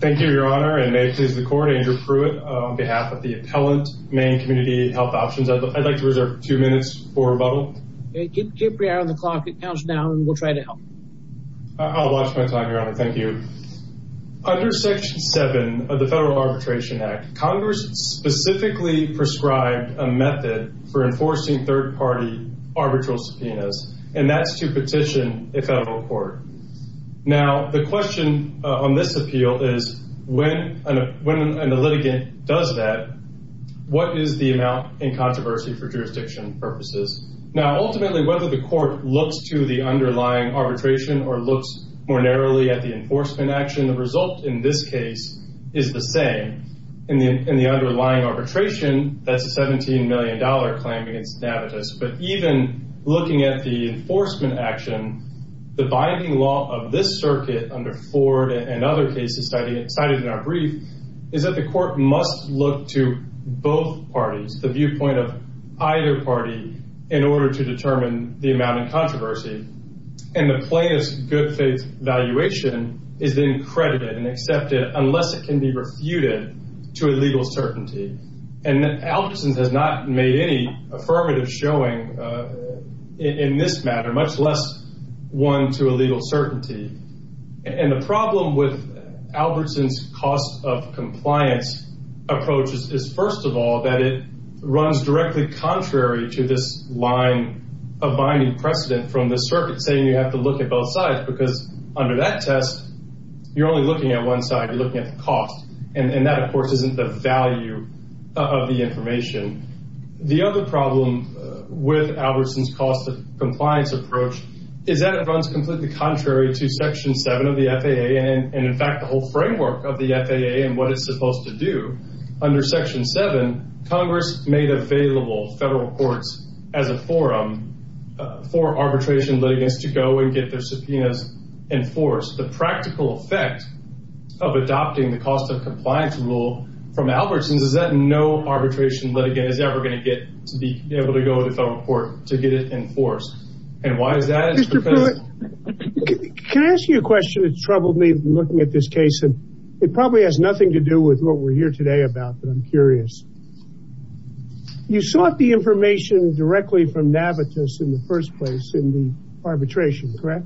Thank you, Your Honor, and may it please the Court, Andrew Pruitt on behalf of the appellant Maine Community Health Options, I'd like to reserve two minutes for rebuttal. Keep your eye on the clock, it counts down and we'll try to help. I'll watch my time, Your Honor, thank you. Under Section 7 of the Federal Arbitration Act, Congress specifically prescribed a method for enforcing third-party arbitral subpoenas, and that's to petition a federal court. Now the question on this appeal is, when a litigant does that, what is the amount in controversy for jurisdiction purposes? Now ultimately whether the court looks to the underlying arbitration or looks more narrowly at the enforcement action, the result in this case is the same. In the underlying arbitration, that's a 17 million dollar claim against Navitus, but even looking at the enforcement action, the binding law of this circuit under Ford and other cases cited in our brief is that the court must look to both parties, the viewpoint of either party, in order to determine the amount in controversy. And the plainest good-faith valuation is then credited and accepted unless it can be refuted to a legal certainty. And Albertsons has not made any affirmative showing in this matter, much less one to a legal certainty. And the problem with Albertsons' cost of compliance approach is first of all that it runs directly contrary to this line of binding precedent from the circuit saying you have to look at both sides, because under that test you're only looking at one side, you're looking at the cost. And that of course isn't the value of the information. The other problem with Albertsons' cost of compliance approach is that it runs completely contrary to Section 7 of the FAA and in fact the whole framework of the FAA and what it's supposed to do. Under Section 7, Congress made available federal courts as a forum for arbitration litigants to go and get their subpoenas enforced. The practical effect of adopting the cost of compliance rule from Albertsons is that no arbitration litigant is ever going to get to be able to go to the federal court to get it enforced. And why is that? Can I ask you a question that's troubled me looking at this case and it probably has nothing to do with what we're here today about, but I'm curious. You sought the information directly from Navitus in the arbitration, correct?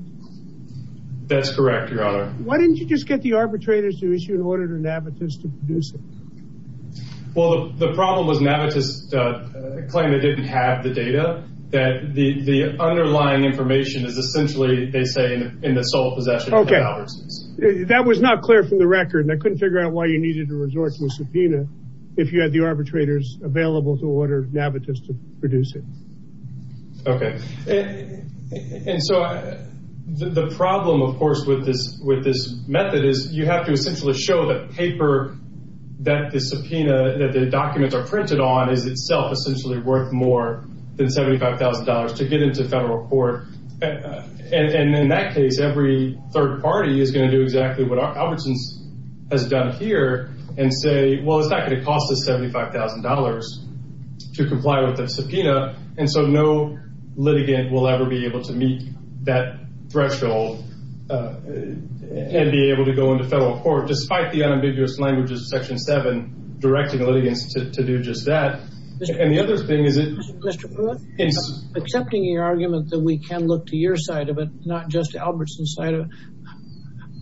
That's correct, Your Honor. Why didn't you just get the arbitrators to issue an order to Navitus to produce it? Well, the problem was Navitus claimed they didn't have the data, that the underlying information is essentially, they say, in the sole possession of Albertsons. That was not clear from the record and I couldn't figure out why you needed to resort to a subpoena if you had the arbitrators available to order Navitus to produce it. Okay, and so the problem, of course, with this method is you have to essentially show that paper, that the subpoena, that the documents are printed on is itself essentially worth more than $75,000 to get into federal court. And in that case, every third party is going to do exactly what Albertsons has done here and say, well, it's not going to cost us $75,000 to comply with the subpoena, and so no litigant will ever be able to meet that threshold and be able to go into federal court, despite the unambiguous languages of Section 7 directing the litigants to do just that. And the other thing is... Mr. Pruitt, accepting your argument that we can look to your side of it, not just Albertsons' side of it,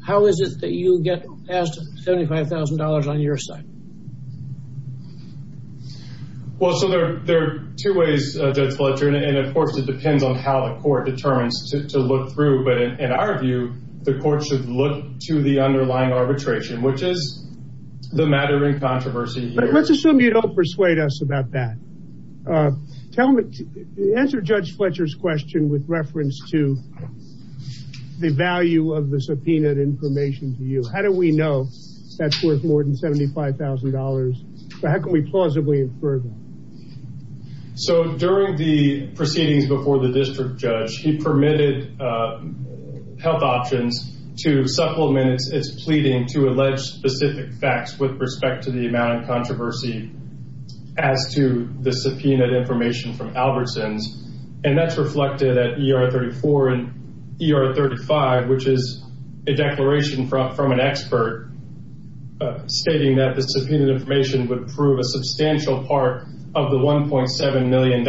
how is it that you get past $75,000 on your side? Well, so there are two ways, Judge Fletcher, and of course it depends on how the court determines to look through, but in our view, the court should look to the underlying arbitration, which is the matter in controversy here. But let's assume you don't persuade us about that. Answer Judge Fletcher's question with reference to the value of the subpoenaed information to you. How do we know that's worth more than $75,000? How can we plausibly infer that? So during the proceedings before the district judge, he permitted Health Options to supplement its pleading to allege specific facts with respect to the amount of controversy as to the subpoenaed information from Albertsons, and that's reflected at ER 34 and ER 35, which is a stating that the subpoenaed information would prove a substantial part of the $1.7 million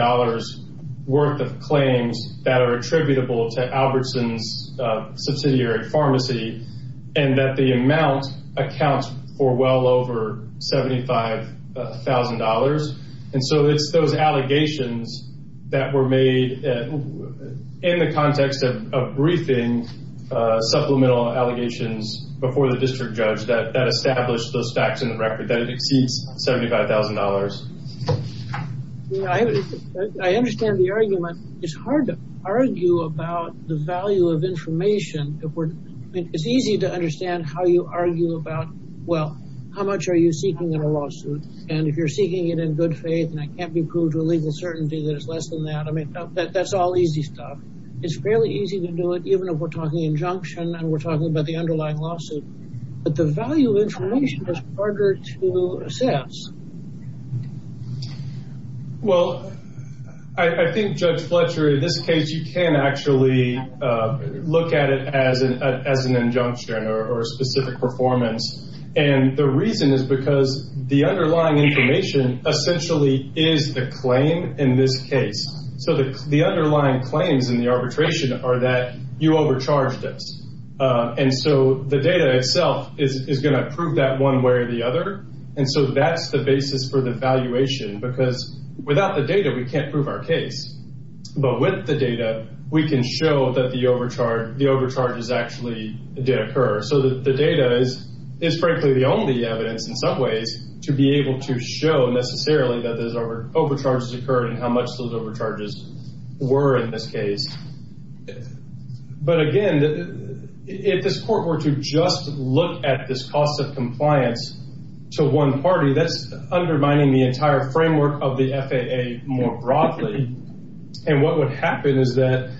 worth of claims that are attributable to Albertsons' subsidiary pharmacy, and that the amount accounts for well over $75,000. And so it's those allegations that were made in the record that exceeds $75,000. I understand the argument. It's hard to argue about the value of information. It's easy to understand how you argue about, well, how much are you seeking in a lawsuit? And if you're seeking it in good faith, and it can't be proved to a legal certainty that it's less than that, I mean, that's all easy stuff. It's fairly easy to do it, even if we're arguing about the underlying lawsuit. But the value of information is harder to assess. Well, I think, Judge Fletcher, in this case, you can actually look at it as an injunction or specific performance. And the reason is because the underlying information essentially is the claim in this case. So the underlying claims in the arbitration are that you overcharged us. And so the data itself is going to prove that one way or the other. And so that's the basis for the valuation, because without the data, we can't prove our case. But with the data, we can show that the overcharges actually did occur. So the data is, frankly, the only evidence in some ways to be able to show necessarily that those overcharges occurred and how much those overcharges were in this case. If this court were to just look at this cost of compliance to one party, that's undermining the entire framework of the FAA more broadly. And what would happen is that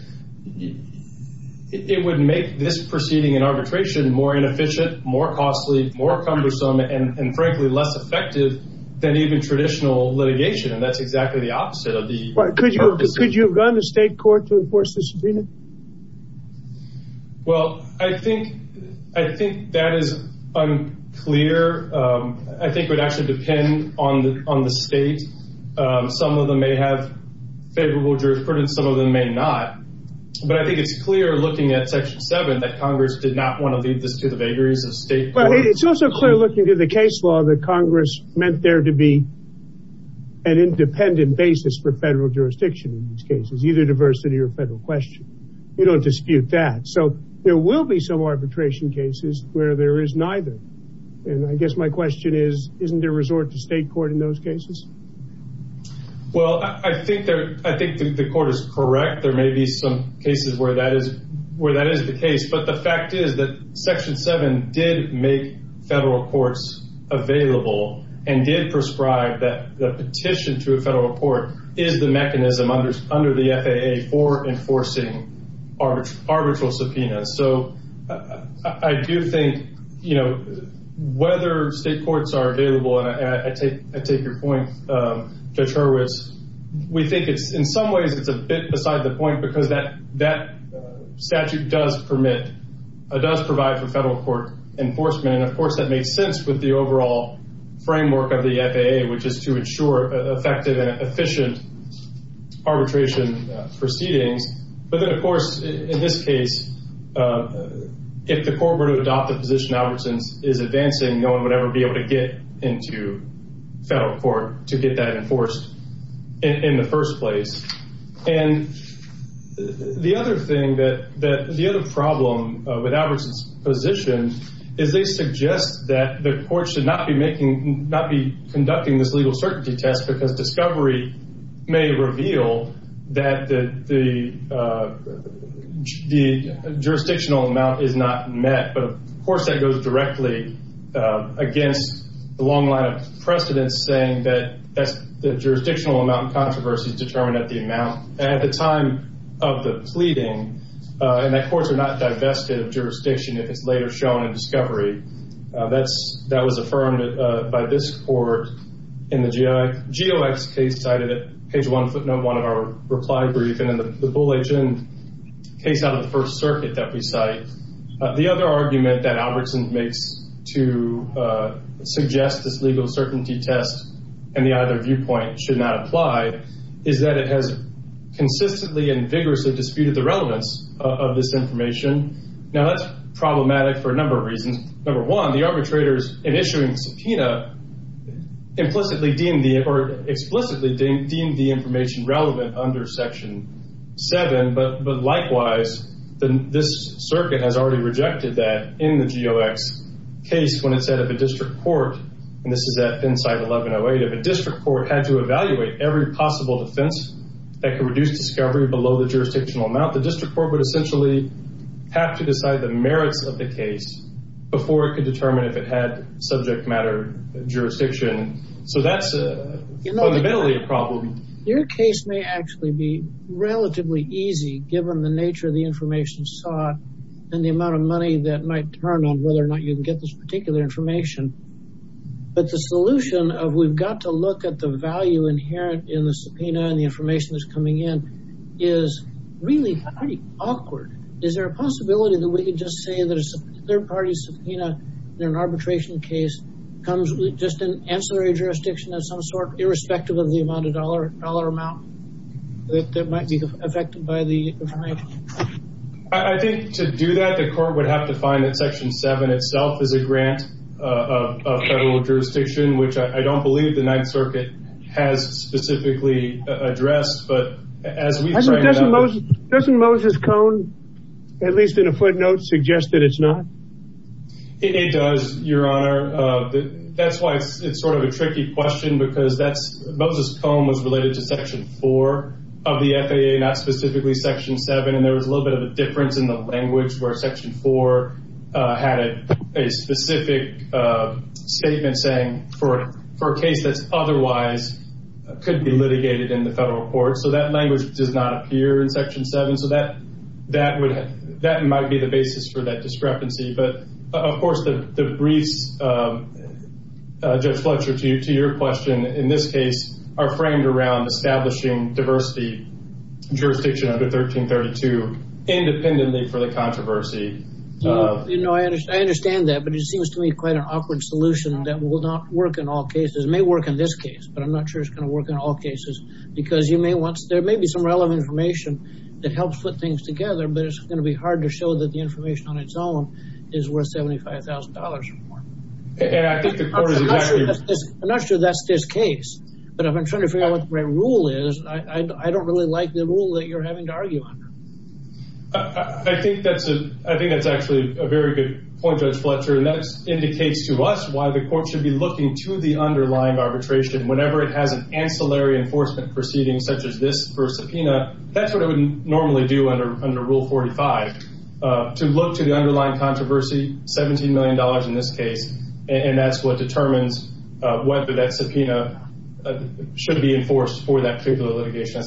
it would make this proceeding in arbitration more inefficient, more costly, more cumbersome, and frankly, less effective than even traditional litigation. And that's exactly the opposite of the... Could you have gone to state court to enforce this agreement? Well, I think that is unclear. I think it would actually depend on the state. Some of them may have favorable jurisprudence, some of them may not. But I think it's clear looking at Section 7 that Congress did not want to lead this to the vagaries of state court. But it's also clear looking at the case law that Congress meant there to be an independent basis for federal jurisdiction in these cases, either diversity or federal question. We don't dispute that. So there will be some arbitration cases where there is neither. And I guess my question is, isn't there a resort to state court in those cases? Well, I think the court is correct. There may be some cases where that is the case. But the fact is that Section 7 did make federal courts available and did prescribe that the petition to a federal court is the mechanism under the FAA for enforcing arbitral subpoenas. So I do think whether state courts are available, and I take your point, Judge Hurwitz, we think in some ways it's a bit beside the point because that statute does provide for federal court enforcement. And of course, that does provide for efficient arbitration proceedings. But then, of course, in this case, if the court were to adopt the position Albertson is advancing, no one would ever be able to get into federal court to get that enforced in the first place. And the other thing that, the other problem with Albertson's position is they suggest that the court should not be making, not be conducting this legal certainty test because discovery may reveal that the jurisdictional amount is not met. But of course, that goes directly against the long line of precedence saying that that's the jurisdictional amount and controversies determined at the amount at the time of the pleading. And that courts are not divested of jurisdiction if it's later shown in discovery. That's, that was affirmed by this court in the GOX case cited at page one footnote one of our reply brief. And in the Bull HN case out of the First Circuit that we cite, the other argument that Albertson makes to suggest this legal certainty test and the either viewpoint should not apply is that it has consistently and vigorously disputed the relevance of this information. Now, that's problematic for a number of reasons. Number one, the arbitrators in issuing the subpoena implicitly deemed the, or explicitly deemed the information relevant under section seven. But likewise, this circuit has already rejected that in the GOX case when it said of a district court, and this is at FinCite 1108, if a district court had to evaluate every possible defense that could reduce discovery below the jurisdictional amount, the district court would essentially have to decide the merits of the case before it could determine if it had subject matter jurisdiction. So that's a fundamentally a problem. Your case may actually be relatively easy given the nature of the information sought and the amount of money that might turn on whether or not you can get this particular information. But the solution of we've got to look at the value inherent in the subpoena and the information that's coming in is really pretty awkward. Is there a possibility that we could just say that a third party subpoena in an arbitration case comes with just an ancillary jurisdiction of some sort irrespective of the amount of dollar amount that might be affected by the information? I think to do that, the court would have to find that section seven itself is a grant of federal jurisdiction, which I don't believe the Ninth Circuit has specifically addressed. Doesn't Moses Cone, at least in a footnote, suggest that it's not? It does, your honor. That's why it's sort of a tricky question because Moses Cone was related to section four of the FAA, not specifically section seven. And there was a little bit of a difference in the language where section four had a specific statement saying for a case that's otherwise could be litigated in the federal court. So that language does not appear in section seven. So that might be the basis for that discrepancy. But of course, the briefs, Judge Fletcher, to your question in this case are framed around establishing diversity jurisdiction under 1332 independently for the controversy. You know, I understand that, but it seems to me quite an awkward solution that will not work in all cases. It may work in this case, but I'm not sure it's going to work in all cases because there may be some relevant information that helps put things together, but it's going to be hard to show that the information on its own is worth $75,000 or more. I'm not sure that's this case, but I've been trying to figure out what the right rule is. I don't really like the rule that you're having to argue under. I think that's actually a very good point, Judge Fletcher, and that indicates to us why the court should be looking to the underlying arbitration whenever it has an ancillary enforcement proceeding such as this for a subpoena. That's what I would normally do under rule 45, to look to the underlying controversy, $17 million in this case, and that's what determines whether that subpoena should be enforced for that particular litigation.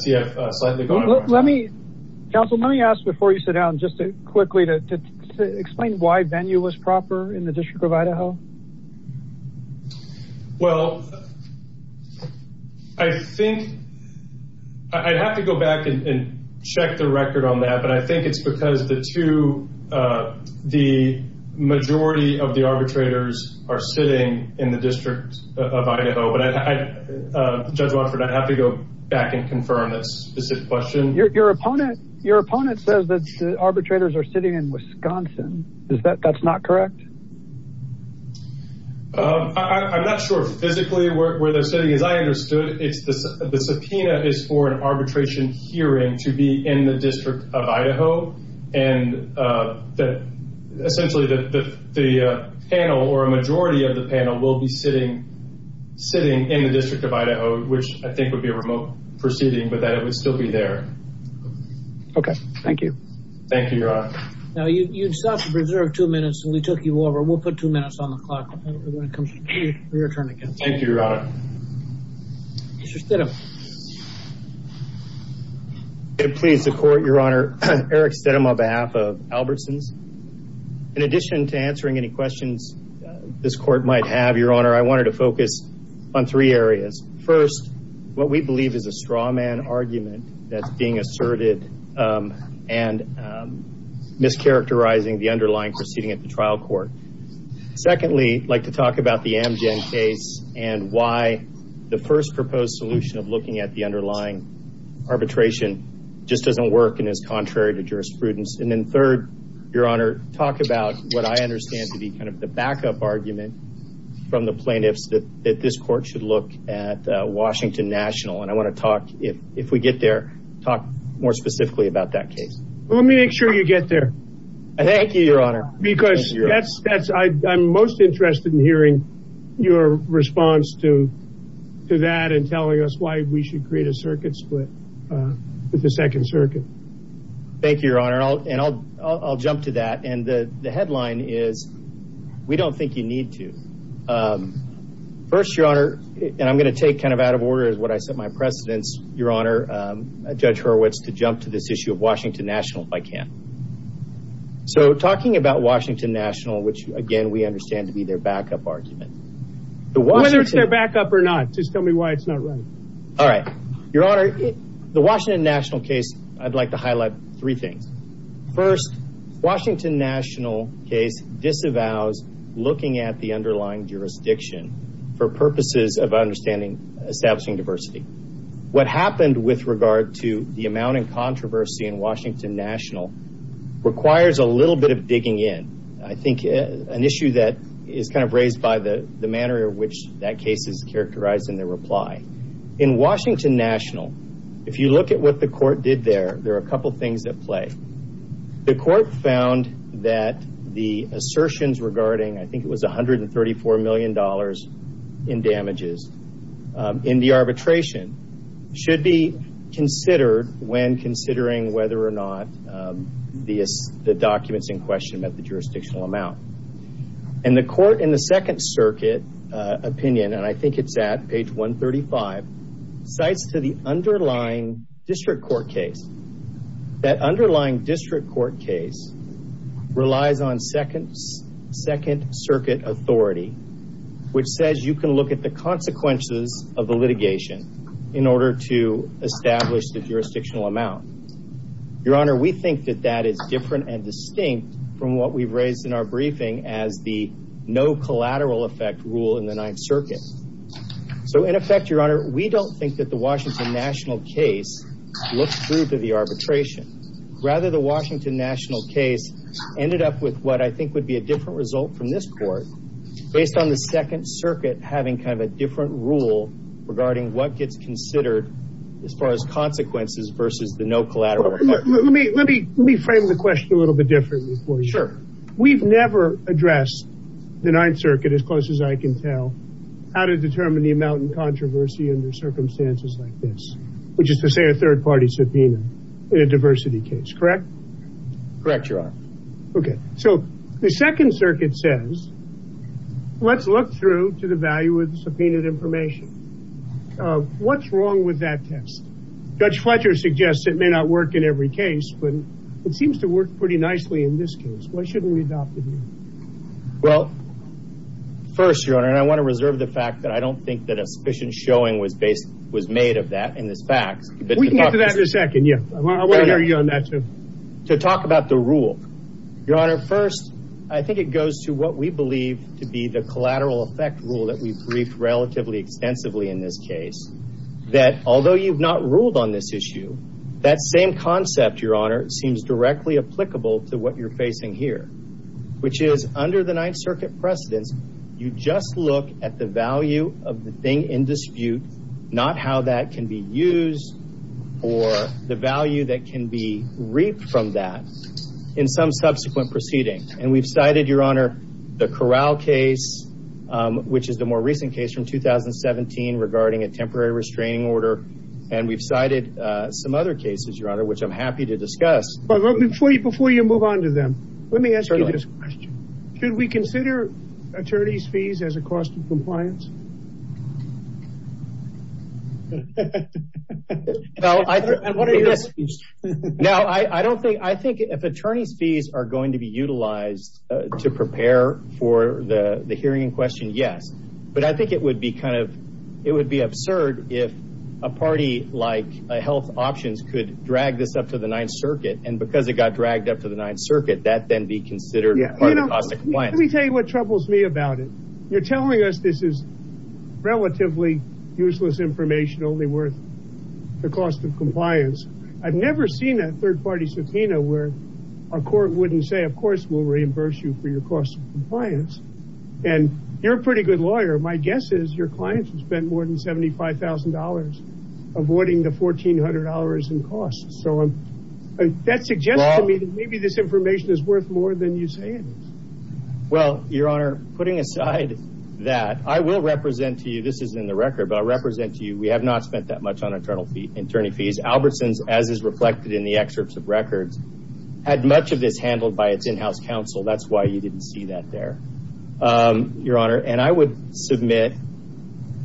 Counsel, let me ask before you sit down just quickly to explain why venue was proper in the District of Idaho. Well, I'd have to go back and check the record on that, but I think it's because the majority of the arbitrators are sitting in the District of Idaho. Judge Watford, I'd have to go back and confirm that specific question. Your opponent says that the arbitrators are sitting in Wisconsin. That's not correct? I'm not sure physically where they're sitting. As I understood, the subpoena is for an arbitration hearing to be in the District of Idaho. Essentially, the panel or a majority of the panel will be sitting in the District of Idaho, which I think would be a remote proceeding, but that it would still be there. Okay. Thank you. Thank you, Your Honor. Now, you'd stop to preserve two minutes, and we took you over. We'll put two minutes on the clock when it comes to your turn again. Thank you, Your Honor. Eric Stedham on behalf of Albertsons. In addition to answering any questions this court might have, Your Honor, I wanted to focus on three areas. First, what we believe is a strawman argument that's being asserted and mischaracterizing the underlying proceeding at the trial court. Secondly, I'd like to talk about the Amgen case and why the first proposed solution of looking at the underlying arbitration just doesn't work and is contrary to jurisprudence. Third, Your Honor, talk about what I understand to be the backup argument from the plaintiffs that this court should look at Washington National. I want to talk, if we get there, talk more specifically about that case. Let me make sure you get there. Thank you, Your Honor. I'm most interested in your response to that and telling us why we should create a circuit split with the Second Circuit. Thank you, Your Honor. I'll jump to that. The headline is, We Don't Think You Need To. First, Your Honor, and I'm going to take out of order what I set my precedence, Your Honor, Judge Hurwitz, to jump to this issue of Washington National if I can. Talking about Washington National, which, again, we understand to be their backup argument, whether it's their backup or not, just tell me why it's not right. All right. Your Honor, the Washington National case, I'd like to highlight three things. First, Washington National case disavows looking at the underlying jurisdiction for purposes of understanding establishing diversity. What happened with regard to the amount of controversy in Washington National requires a little bit of digging in. I think an issue that is kind of raised by the manner in which that case is characterized in their reply. In Washington National, if you look at what the court did there, there are a couple of things at play. The court found that the assertions regarding, I think it was $134 million in damages in the arbitration should be considered when considering whether or not the documents in question met the jurisdictional amount. The court in the Second Circuit opinion, and I think it's at page 135, cites to the underlying district court case. That underlying district court case relies on Second Circuit authority, which says you can look at the consequences of the litigation in order to establish the jurisdictional amount. Your Honor, we think that that is different and as the no collateral effect rule in the Ninth Circuit. In effect, Your Honor, we don't think that the Washington National case looks through to the arbitration. Rather, the Washington National case ended up with what I think would be a different result from this court based on the Second Circuit having kind of a different rule regarding what gets considered as far as consequences versus the no collateral effect. Let me frame the question a little bit differently. We've never addressed the Ninth Circuit, as close as I can tell, how to determine the amount in controversy under circumstances like this, which is to say a third party subpoena in a diversity case, correct? Correct, Your Honor. Okay, so the Second Circuit says, let's look through to the value of the subpoenaed information. What's wrong with that test? Judge Fletcher suggests it may not work in every case, but it seems to work pretty nicely in this case. Why shouldn't we adopt it here? Well, first, Your Honor, and I want to reserve the fact that I don't think that a sufficient showing was made of that in this fact. We can get to that in a second, yeah. I want to hear you on that too. To talk about the rule. Your Honor, first, I think it goes to what we believe to be the collateral effect rule that we've briefed relatively extensively in this case, that although you've not ruled on this issue, that same concept, Your Honor, seems directly applicable to what you're facing here, which is under the Ninth Circuit precedence, you just look at the value of the thing in dispute, not how that can be used or the value that can be reaped from that in some subsequent proceeding. And we've cited, Your Honor, the Corral case, which is the more recent case from 2017 regarding a temporary restraining order, and we've cited some other cases, Your Honor, which I'm happy to discuss. Before you move on to them, let me ask you this question. Should we consider attorney's fees as a cost of compliance? I think if attorney's fees are going to be utilized to prepare for the hearing in question, yes. But I think it would be absurd if a party like Health Options could drag this up to the Ninth Circuit, and because it got dragged up to the Ninth Circuit, that then be considered part of the cost of compliance. Let me tell you what troubles me about it. You're telling us this is relatively useless information only worth the cost of compliance. I've never seen a third-party subpoena where a court wouldn't say, of course, we'll reimburse you for your cost of compliance. And you're a pretty good lawyer. My guess is your clients have spent more than $75,000 avoiding the $1,400 in costs. So that suggests to me that maybe this I will represent to you, this is in the record, but I represent to you, we have not spent that much on attorney fees. Albertson's, as is reflected in the excerpts of records, had much of this handled by its in-house counsel. That's why you didn't see that there, Your Honor. And I would submit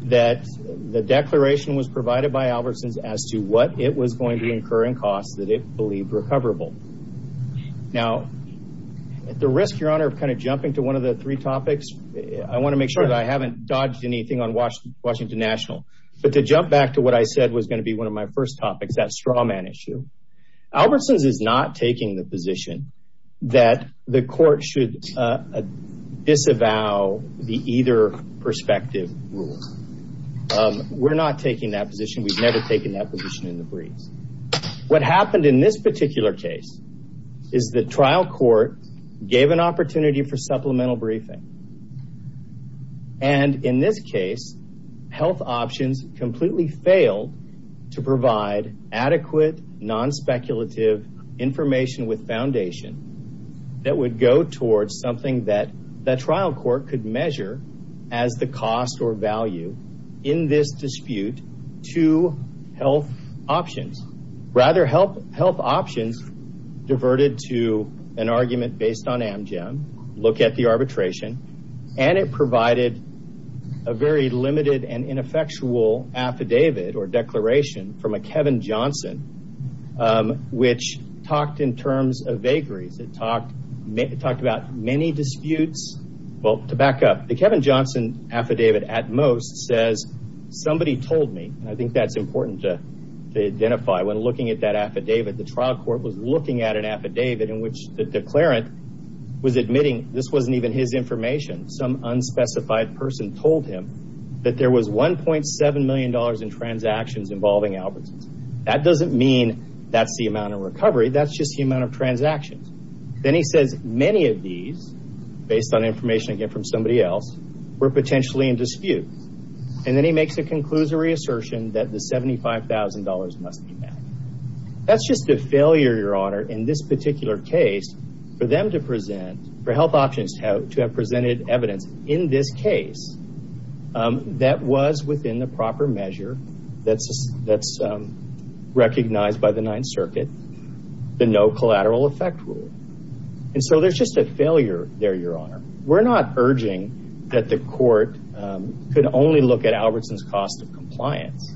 that the declaration was provided by Albertson's as to what it was going to incur in costs that it believed recoverable. Now, at the risk, Your Honor, of kind of jumping to one of the three topics, I want to make sure that I haven't dodged anything on Washington National. But to jump back to what I said was going to be one of my first topics, that straw man issue, Albertson's is not taking the position that the court should disavow the either perspective rule. We're not taking that position. We've never taken that position in the breeze. What happened in this particular case is the trial court gave an opportunity for supplemental briefing. And in this case, health options completely failed to provide adequate, non-speculative information with foundation that would go towards something that the trial court could measure as the cost or value in this dispute to health options. Rather, health options diverted to an argument based on Amgen, look at the arbitration, and it provided a very limited and ineffectual affidavit or declaration from a Kevin Johnson, which talked in terms of vagaries. It talked about many disputes. Well, to back up, the Kevin Johnson affidavit at most says, somebody told me, and I think that's important to identify when looking at that affidavit, the trial court was looking at an affidavit in which the declarant was admitting this wasn't even his information. Some unspecified person told him that there was $1.7 million in transactions involving Albertsons. That doesn't mean that's the amount of recovery. That's just the amount of transactions. Then he says many of these, based on information again from somebody else, were potentially in dispute. And then he makes a conclusory assertion that the $75,000 must be met. That's just a failure, your honor, in this particular case for them to present, for health options to have presented evidence in this case that was within the proper measure that's recognized by the Ninth Circuit, the no collateral effect rule. And so there's just a failure there, your honor. We're not urging that the court could only look at Albertsons' cost of compliance.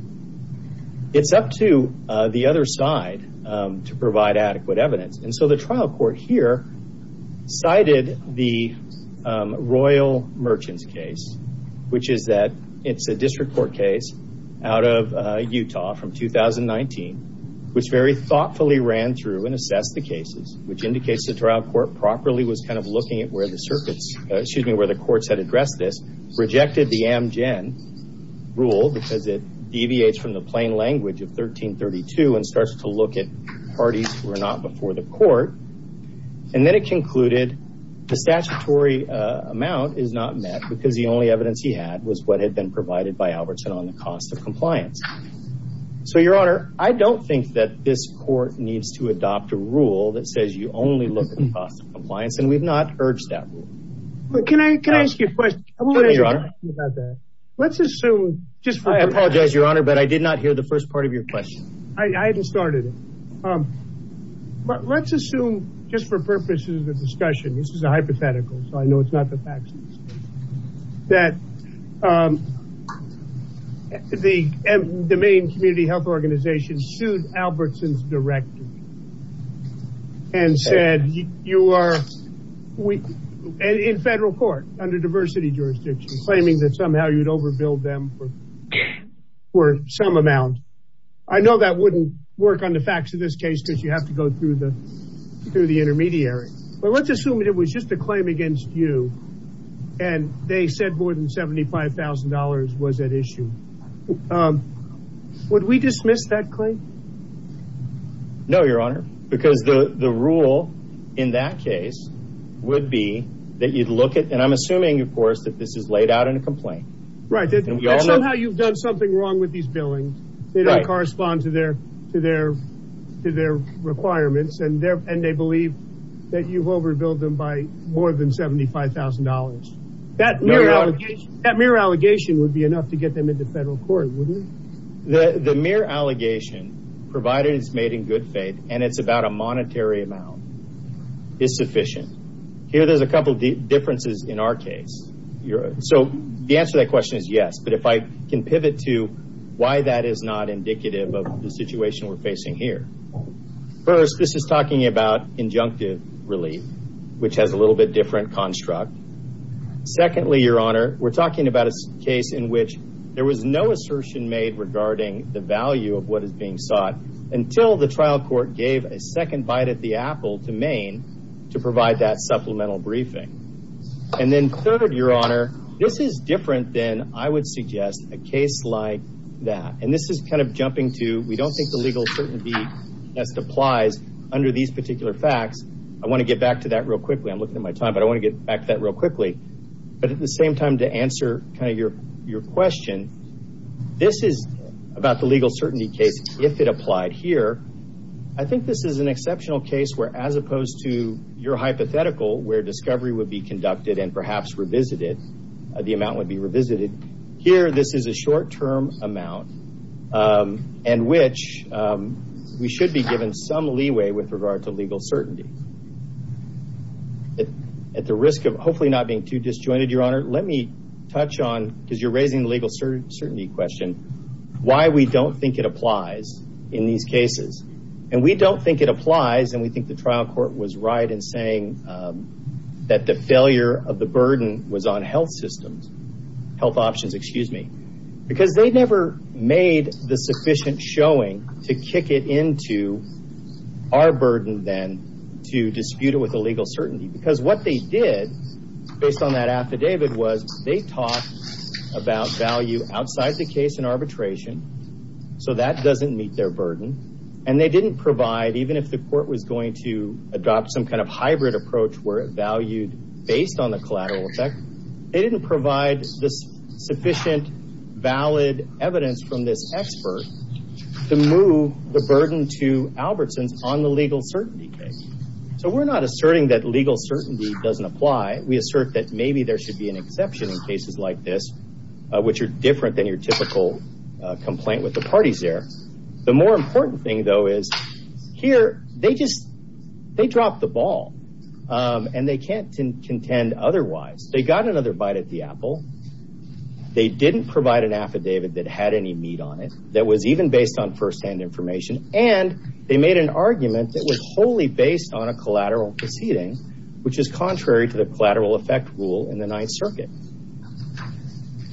It's up to the other side to provide adequate evidence. And so the trial court here cited the Royal Merchants case, which is that it's a district court case out of Utah from 2019, which very thoughtfully ran through and assessed the cases, which indicates the trial court properly was kind of looking at where the circuits, excuse me, where the courts had addressed this, rejected the Amgen rule because it deviates from the plain language of 1332 and starts to look at parties who are not before the court. And then it concluded the statutory amount is not met because the only evidence he had was what had been provided by Albertson on the cost of compliance. So your honor, I don't think that this court needs to adopt a rule that says you only look at the cost of compliance and we've not urged that rule. But can I ask you a question about that? Let's assume, I apologize your honor, but I did not hear the first part of your question. I hadn't started it. But let's assume just for purposes of discussion, this is a hypothetical, I know it's not the facts, that the main community health organization sued Albertson's director and said you are in federal court under diversity jurisdiction claiming that somehow you'd overbilled them for some amount. I know that wouldn't work on the facts of this case because you have to go through the intermediary. But let's assume it was just a claim against you and they said more than $75,000 was at issue. Would we dismiss that claim? No, your honor. Because the rule in that case would be that you'd look at, and I'm assuming of course that this is laid out in a complaint. Right, that somehow you've done something wrong with these billings that don't correspond to their requirements and they believe that you've overbilled them by more than $75,000. That mere allegation would be enough to get them into federal court, wouldn't it? The mere allegation, provided it's made in good faith and it's about a monetary amount, is sufficient. Here there's a couple differences in our case. So the answer to that why that is not indicative of the situation we're facing here. First, this is talking about injunctive relief, which has a little bit different construct. Secondly, your honor, we're talking about a case in which there was no assertion made regarding the value of what is being sought until the trial court gave a second bite at the apple to Maine to provide that supplemental briefing. And then third, your honor, this is different than I would suggest a that. And this is kind of jumping to we don't think the legal certainty test applies under these particular facts. I want to get back to that real quickly. I'm looking at my time, but I want to get back to that real quickly. But at the same time to answer kind of your question, this is about the legal certainty case if it applied here. I think this is an exceptional case where as opposed to your hypothetical where discovery would be conducted and perhaps revisited, the amount and which we should be given some leeway with regard to legal certainty. At the risk of hopefully not being too disjointed, your honor, let me touch on, because you're raising the legal certainty question, why we don't think it applies in these cases. And we don't think it applies and we think the trial court was right in saying that the failure of the burden was on health systems, health options, excuse me. Because they never made the sufficient showing to kick it into our burden then to dispute it with the legal certainty. Because what they did based on that affidavit was they talked about value outside the case in arbitration. So that doesn't meet their burden. And they didn't provide, even if the court was going to adopt some kind of hybrid approach where it valued based on the collateral effect, they didn't provide the sufficient valid evidence from this expert to move the burden to Albertsons on the legal certainty case. So we're not asserting that legal certainty doesn't apply. We assert that maybe there should be an exception in cases like this which are different than your typical complaint with the parties there. The more important thing, though, is here they just they dropped the ball. And they can't contend otherwise. They got another bite at the apple. They didn't provide an affidavit that had any meat on it that was even based on first-hand information. And they made an argument that was wholly based on a collateral proceeding, which is contrary to the collateral effect rule in the Ninth Circuit.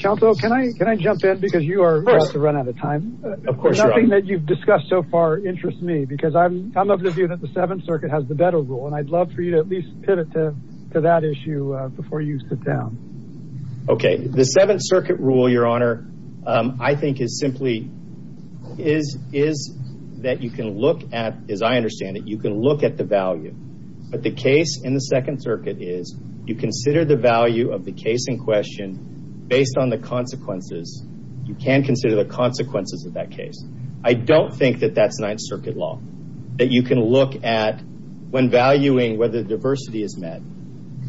Counsel, can I can I jump in because you are about to run out of time. Of course. Nothing that you've discussed so far interests me because I'm I'm of the view that the Seventh Circuit has the better rule. And I'd love for you to at least pivot to to that issue before you sit down. Okay. The Seventh Circuit rule, Your Honor, I think is simply is is that you can look at, as I understand it, you can look at the value. But the case in the Second Circuit is you consider the value of the case in question based on the consequences. You can consider the consequences of that case. I don't think that that's Ninth Circuit law that you can look at when valuing whether the diversity is met.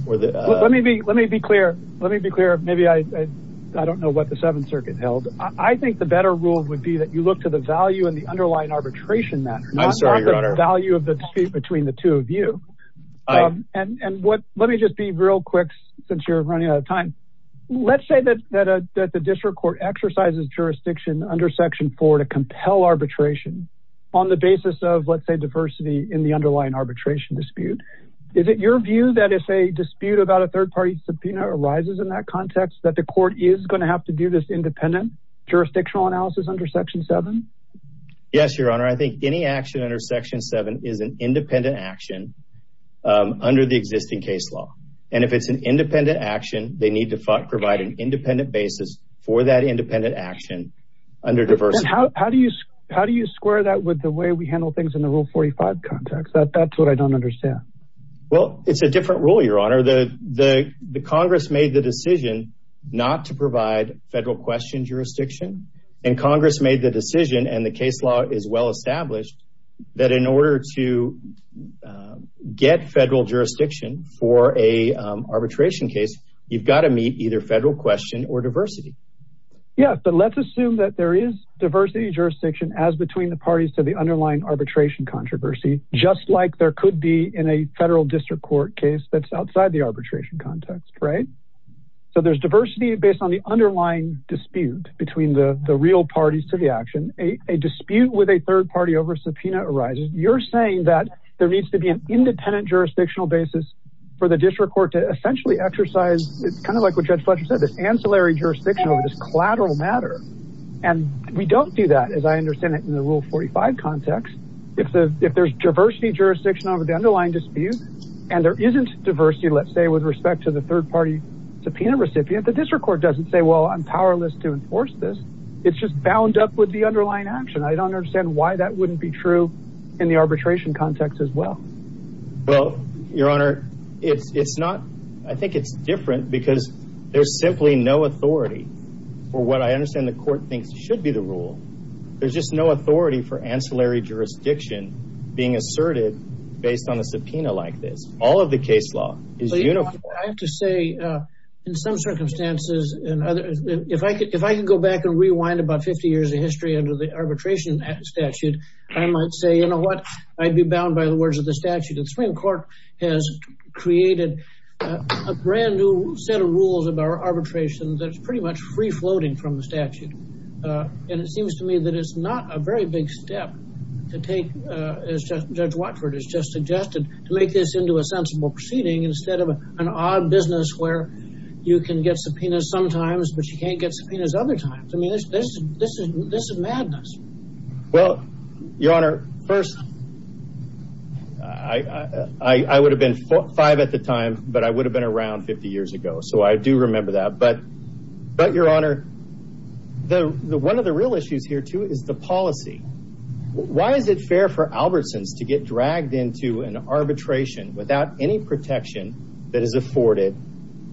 Let me be let me be clear. Let me be clear. Maybe I don't know what the Seventh Circuit held. I think the better rule would be that you look to the value and the underlying arbitration matter, not the value of the dispute between the two of you. And what let me just be real quick, since you're running out of time. Let's say that that the district court exercises jurisdiction under Section four to compel arbitration on the basis of, let's say, diversity in the underlying arbitration dispute. Is it your view that if a dispute about a third party subpoena arises in that context, that the court is going to have to do this independent jurisdictional analysis under Section seven? Yes, Your Honor. I think any action under Section seven is an independent action under the existing case law. And if it's an independent action, they need to provide an independent basis for that independent action under diversity. How do you how do you square that with the way we handle things in the Rule 45 context? That's what I don't understand. Well, it's a different rule, Your Honor. The Congress made the decision not to provide federal question jurisdiction and Congress made the decision and the case law is well established that in order to get federal jurisdiction for a arbitration case, you've got to meet either federal question or diversity. Yeah, but let's assume that there is diversity jurisdiction as between the parties to the underlying arbitration controversy, just like there could be in a federal district court case that's outside the arbitration context, right? So there's diversity based on the underlying dispute between the real parties to the action. A dispute with a third party over subpoena arises. You're saying that there needs to be an independent jurisdictional basis for the district court to essentially exercise. It's kind of like what Judge Fletcher said, this ancillary jurisdiction over this collateral matter. And we don't do that as I understand it in the Rule 45 context. If there's diversity jurisdiction over the underlying dispute and there isn't diversity, let's say with respect to the third party subpoena recipient, the district court doesn't say, well, I'm powerless to enforce this. It's just bound up with the underlying action. I don't understand why that wouldn't be true in the arbitration context as well. Well, Your Honor, it's not. I think it's different because there's simply no authority for what I understand the court thinks should be the rule. There's just no authority for ancillary jurisdiction being asserted based on a subpoena like this. All of the case law is uniform. I have to say in some circumstances and other if I could, if I can go back and rewind about 50 years of history under the arbitration statute, I might say, you know what, I'd be bound by the words of the statute. The Supreme Court has created a brand new set of rules about arbitration that's pretty much free-floating from the statute. And it seems to me that it's not a very big step to take, as Judge Watford has just suggested, to make this into a sensible proceeding instead of an odd business where you can get subpoenas sometimes, but you can't get subpoenas other times. I mean, this is madness. Well, Your Honor, first, I would have been five at the time, but I would have been around 50 years ago. So I do remember that. But Your Honor, one of the real issues here too is the policy. Why is it fair for Albertsons to get dragged into an arbitration without any protection that is afforded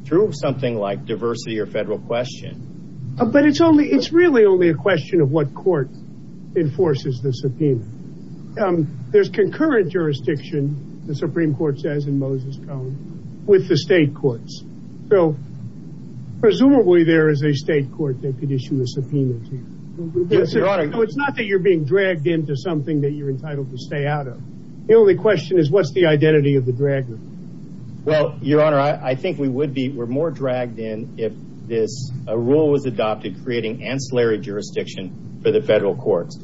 through something like diversity or federal question? But it's really only a question of what court enforces the subpoena. There's concurrent jurisdiction, the Supreme Court says in Moses Cone, with the state courts. So presumably there is a state court that could issue a subpoena to you. It's not that you're being dragged into something that you're entitled to stay out of. The only question is, what's the identity of the dragger? Well, Your Honor, I think we would be more dragged in if this rule was adopted, creating ancillary jurisdiction for the federal courts.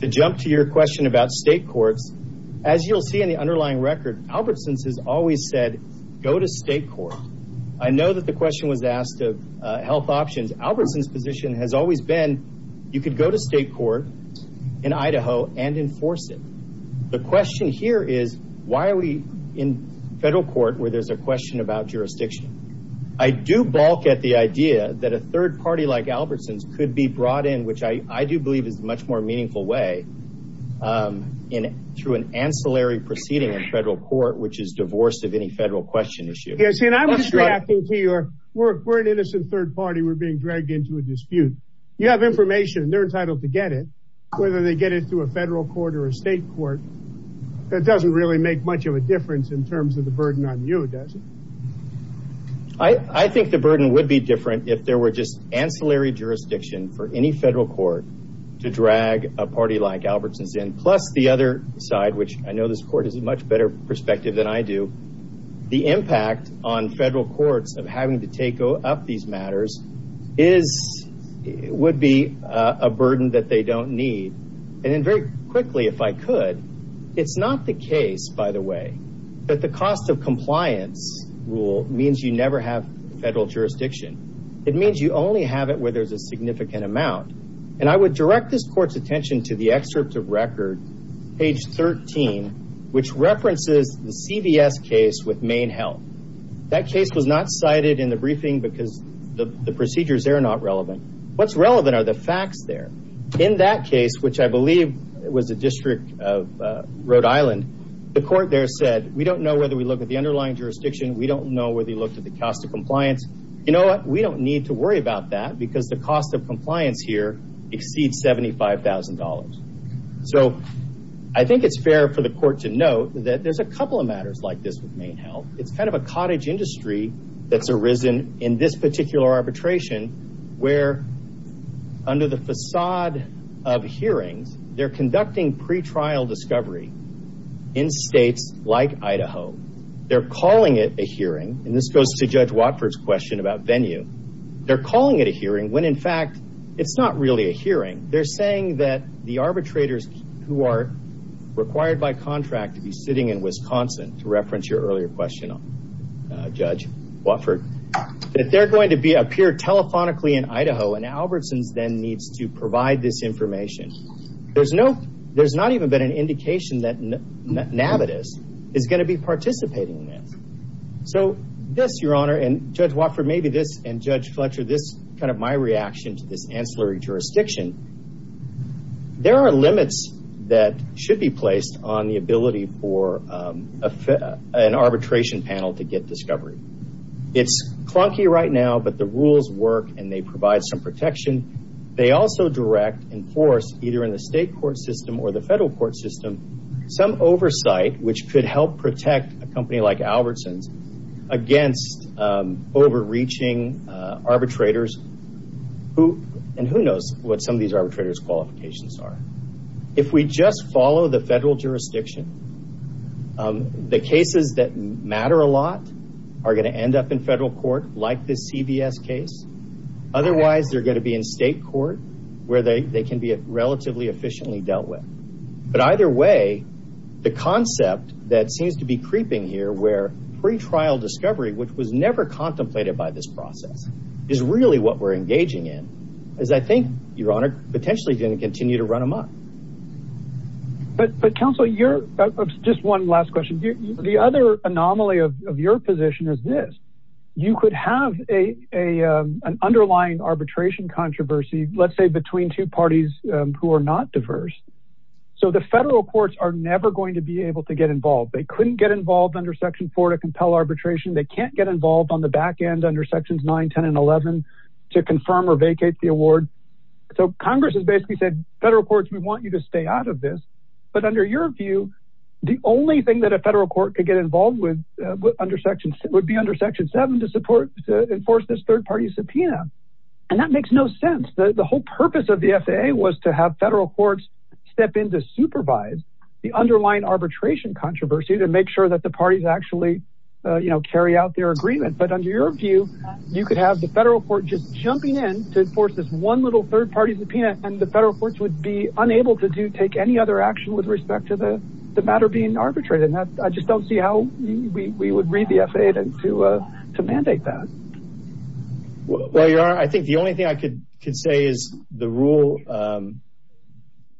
To jump to your question about state courts, as you'll see in the underlying record, Albertsons has always said, go to state court. I know that the question was asked of health options. Albertsons' position has always been, you could go to state court in Idaho and enforce it. The question here is, why are we in federal court where there's a question about jurisdiction? I do balk at the idea that a third party like could be brought in, which I do believe is a much more meaningful way, through an ancillary proceeding in federal court, which is divorce of any federal question issue. Yes, and I'm just reacting to your work. We're an innocent third party. We're being dragged into a dispute. You have information, they're entitled to get it, whether they get it through a federal court or a state court. That doesn't really make much of a difference in terms of the burden on you, does it? I think the burden would be different if there were just ancillary jurisdiction for any federal court to drag a party like Albertsons in, plus the other side, which I know this court has a much better perspective than I do. The impact on federal courts of having to take up these matters would be a burden that they don't need. Then very quickly, if I could, it's not the case, by the way, that the cost of compliance rule means you never have federal jurisdiction. It means you only have it where there's a significant amount. I would direct this court's attention to the excerpt of record, page 13, which references the CVS case with Maine Health. That case was not cited in the briefing because the procedures there are not relevant. What's relevant are the facts there. In that case, which I believe was a district of Rhode Island, the court there said, we don't know whether we look at the cost of compliance. You know what? We don't need to worry about that because the cost of compliance here exceeds $75,000. I think it's fair for the court to note that there's a couple of matters like this with Maine Health. It's kind of a cottage industry that's arisen in this particular arbitration where under the facade of hearings, they're conducting pretrial discovery in states like Idaho. It goes to Judge Watford's question about venue. They're calling it a hearing when, in fact, it's not really a hearing. They're saying that the arbitrators who are required by contract to be sitting in Wisconsin, to reference your earlier question, Judge Watford, that they're going to appear telephonically in Idaho and Albertson's then needs to provide this information. There's not even been an indication that Navitas is going to be participating in this. This, Your Honor, and Judge Watford, maybe this, and Judge Fletcher, this kind of my reaction to this ancillary jurisdiction, there are limits that should be placed on the ability for an arbitration panel to get discovery. It's clunky right now, but the rules work and they provide some protection. They also direct and force either in the state court system or the federal court system some oversight which could help protect a company like Albertson's against overreaching arbitrators. Who knows what some of these arbitrators' qualifications are? If we just follow the federal jurisdiction, the cases that matter a lot are going to end up in federal court like this CVS case. Otherwise, they're going to be in state court where they can be relatively efficiently dealt with. Either way, the concept that seems to be creeping here where pre-trial discovery, which was never contemplated by this process, is really what we're engaging in. I think, Your Honor, potentially going to continue to run amok. But counsel, just one last question. The other anomaly of your position is this. You could have an underlying arbitration controversy, let's say between two parties who are not diverse. The federal courts are never going to be able to get involved. They couldn't get involved under Section 4 to compel arbitration. They can't get involved on the back end under Sections 9, 10, and 11 to confirm or vacate the award. Congress has basically said, federal courts, we want you to stay out of this. But under your view, the only thing that a federal to enforce this third-party subpoena. That makes no sense. The whole purpose of the FAA was to have federal courts step in to supervise the underlying arbitration controversy to make sure that the parties actually carry out their agreement. But under your view, you could have the federal court just jumping in to enforce this one little third-party subpoena and the federal courts would be unable to take any other action with respect to the matter being arbitrated. I just don't see how we would read the FAA to mandate that. Well, I think the only thing I could say is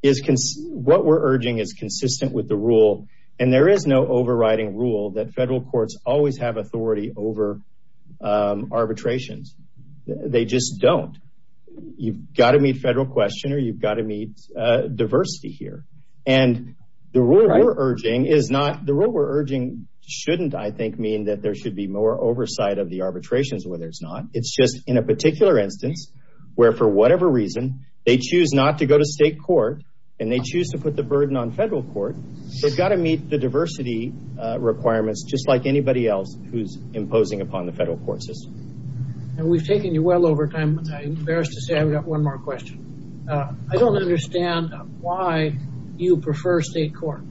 what we're urging is consistent with the rule. And there is no overriding rule that federal courts always have authority over arbitrations. They just don't. You've got to meet federal question or you've got to meet diversity here. And the rule we're urging is not, the rule we're urging shouldn't, I think, mean that there should be more oversight of the arbitrations, whether it's not. It's just in a particular instance, where for whatever reason, they choose not to go to state court, and they choose to put the burden on federal court. They've got to meet the diversity requirements, just like anybody else who's imposing upon the federal court system. And we've taken you well over time. I'm embarrassed to say I've got one more question. I don't understand why you prefer state court.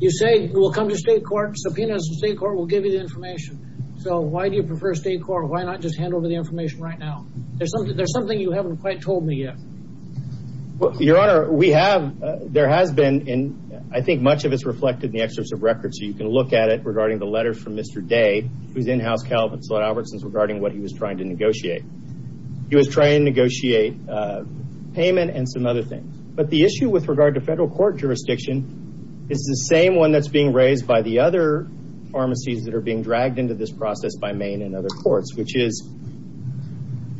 You say we'll come to state court, subpoenas from state court, we'll give you the information. So why do you prefer state court? Why not just hand over the information right now? There's something you haven't quite told me yet. Well, Your Honor, we have, there has been, and I think much of it's reflected in the excerpts of records, so you can look at it regarding the letters from Mr. Day, who's in-house, Calvin Slot-Albertson's, regarding what he was trying to negotiate. He was trying to negotiate payment and some other things. But the issue with regard to federal court jurisdiction is the same one that's being raised by the other pharmacies that are being dragged into this process by Maine and other courts, which is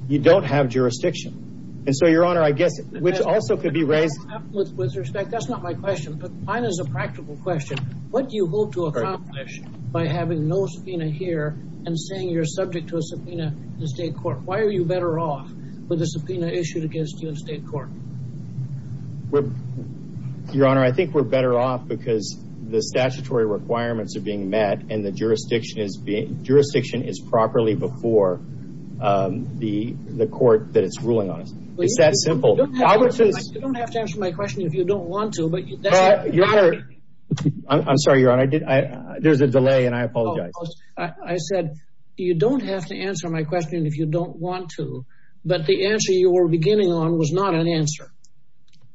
you don't have jurisdiction. And so, Your Honor, I guess, which also could be raised. With respect, that's not my question, but mine is a practical question. What do you hope to accomplish by having no subpoena here and saying you're subject to a subpoena in the state court? Why are you better off with a subpoena issued against you in state court? Your Honor, I think we're better off because the statutory requirements are being met and the jurisdiction is being, jurisdiction is properly before the court that it's ruling on us. It's that simple. You don't have to answer my question if you don't want to, Your Honor. I'm sorry, Your Honor. There's a delay and I apologize. I said you don't have to answer my question if you don't want to. But the answer you were beginning on was not an answer.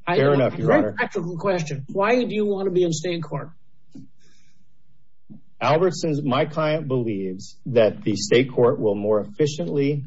Fair enough, Your Honor. A practical question. Why do you want to be in state court? Albertson's, my client believes that the state court will more efficiently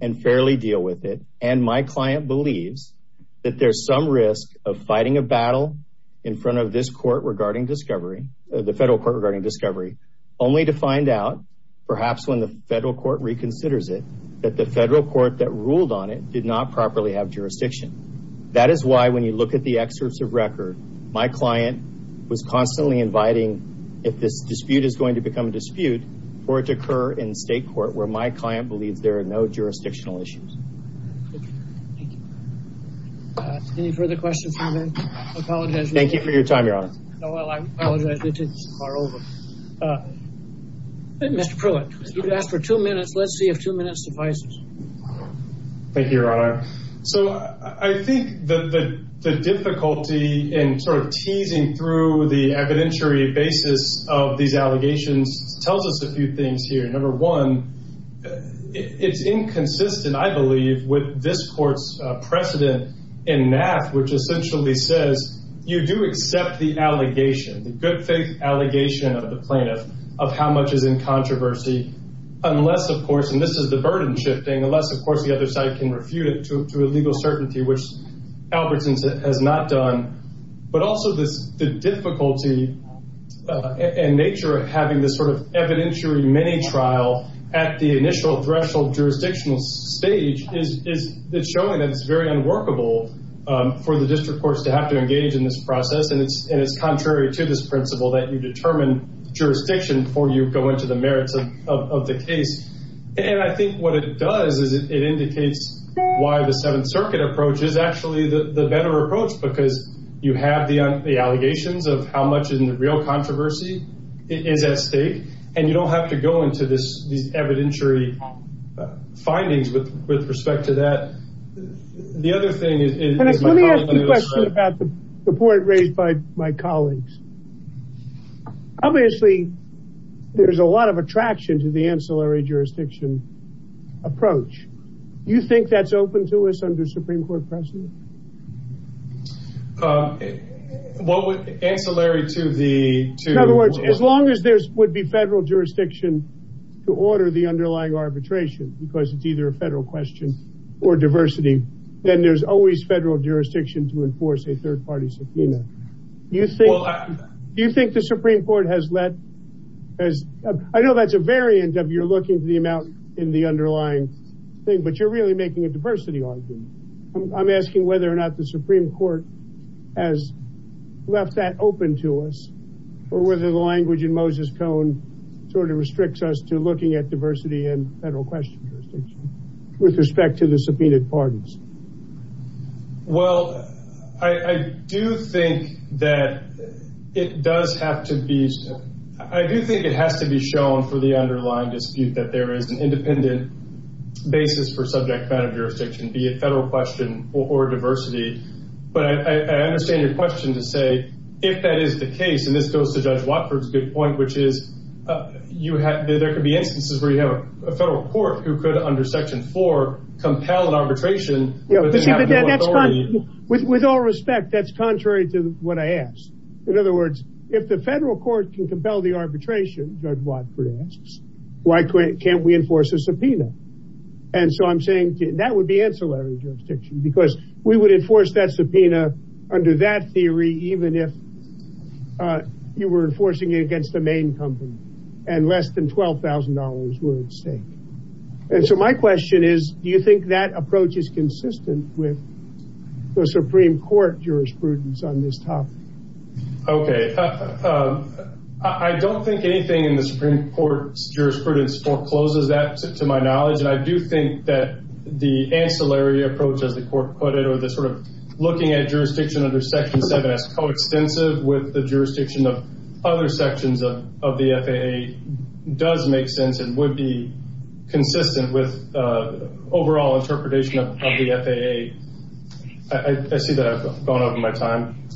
and fairly deal with it and my client believes that there's some risk of fighting a battle in front of this court regarding discovery, the federal court regarding discovery, only to find out perhaps when the federal court reconsiders it that the federal court that ruled on it did not properly have jurisdiction. That is why when you look at the excerpts of record, my client was constantly inviting if this dispute is going to become a dispute for it to occur in state court where my Thank you. Any further questions from me? I apologize. Thank you for your time, Your Honor. No, I apologize. It's far over. Mr. Pruitt, you've asked for two minutes. Let's see if two minutes suffices. Thank you, Your Honor. So I think the difficulty in sort of teasing through the evidentiary basis of these allegations tells us a few things here. Number one, it's inconsistent, I believe, with this court's precedent in NAAF, which essentially says you do accept the allegation, the good faith allegation of the plaintiff of how much is in controversy unless, of course, and this is the burden shifting, unless, of course, the other side can refute it to a legal certainty, which Albertson's has not done. But also this the at the initial threshold jurisdictional stage is showing that it's very unworkable for the district courts to have to engage in this process. And it's contrary to this principle that you determine jurisdiction before you go into the merits of the case. And I think what it does is it indicates why the Seventh Circuit approach is actually the better approach because you have the evidentiary findings with respect to that. The other thing is... Let me ask you a question about the point raised by my colleagues. Obviously, there's a lot of attraction to the ancillary jurisdiction approach. Do you think that's open to us under Supreme Court precedent? Ancillary to the... In other words, as long as there would be federal jurisdiction to order the underlying arbitration, because it's either a federal question or diversity, then there's always federal jurisdiction to enforce a third-party subpoena. Do you think the Supreme Court has let... I know that's a variant of you're looking to the amount in the underlying thing, but you're really making a diversity argument. I'm asking whether or not the Supreme Court has left that open to us or whether the language in Moses Cone sort of restricts us to looking at diversity and federal question jurisdiction with respect to the subpoenaed pardons. Well, I do think that it does have to be... I do think it has to be shown for the underlying dispute that there is an independent basis for subject matter jurisdiction, be it federal question or diversity. But I understand your question to say, if that is the case, and this goes to Judge Watford's good point, which is there could be instances where you have a federal court who could, under Section 4, compel an arbitration... With all respect, that's contrary to what I asked. In other words, if the federal court can compel the arbitration, Judge Watford asks, why can't we enforce a subpoena? And so I'm saying that would be ancillary jurisdiction because we would enforce that theory even if you were enforcing it against the main company and less than $12,000 were at stake. And so my question is, do you think that approach is consistent with the Supreme Court jurisprudence on this topic? Okay. I don't think anything in the Supreme Court's jurisprudence forecloses that, to my knowledge, and I do think that the ancillary approach, as the court put it, or this sort of looking at jurisdiction under Section 7 as coextensive with the jurisdiction of other sections of the FAA, does make sense and would be consistent with overall interpretation of the FAA. I see that I've gone over my time.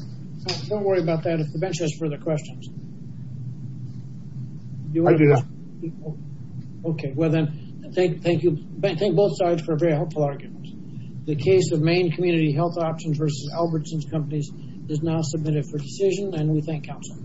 Don't worry about that. If the bench has further questions... Okay. Well then, thank you. Thank both sides for a very helpful argument. The case of Main Community Health Options versus Albertsons Companies is now submitted for decision, and we thank counsel.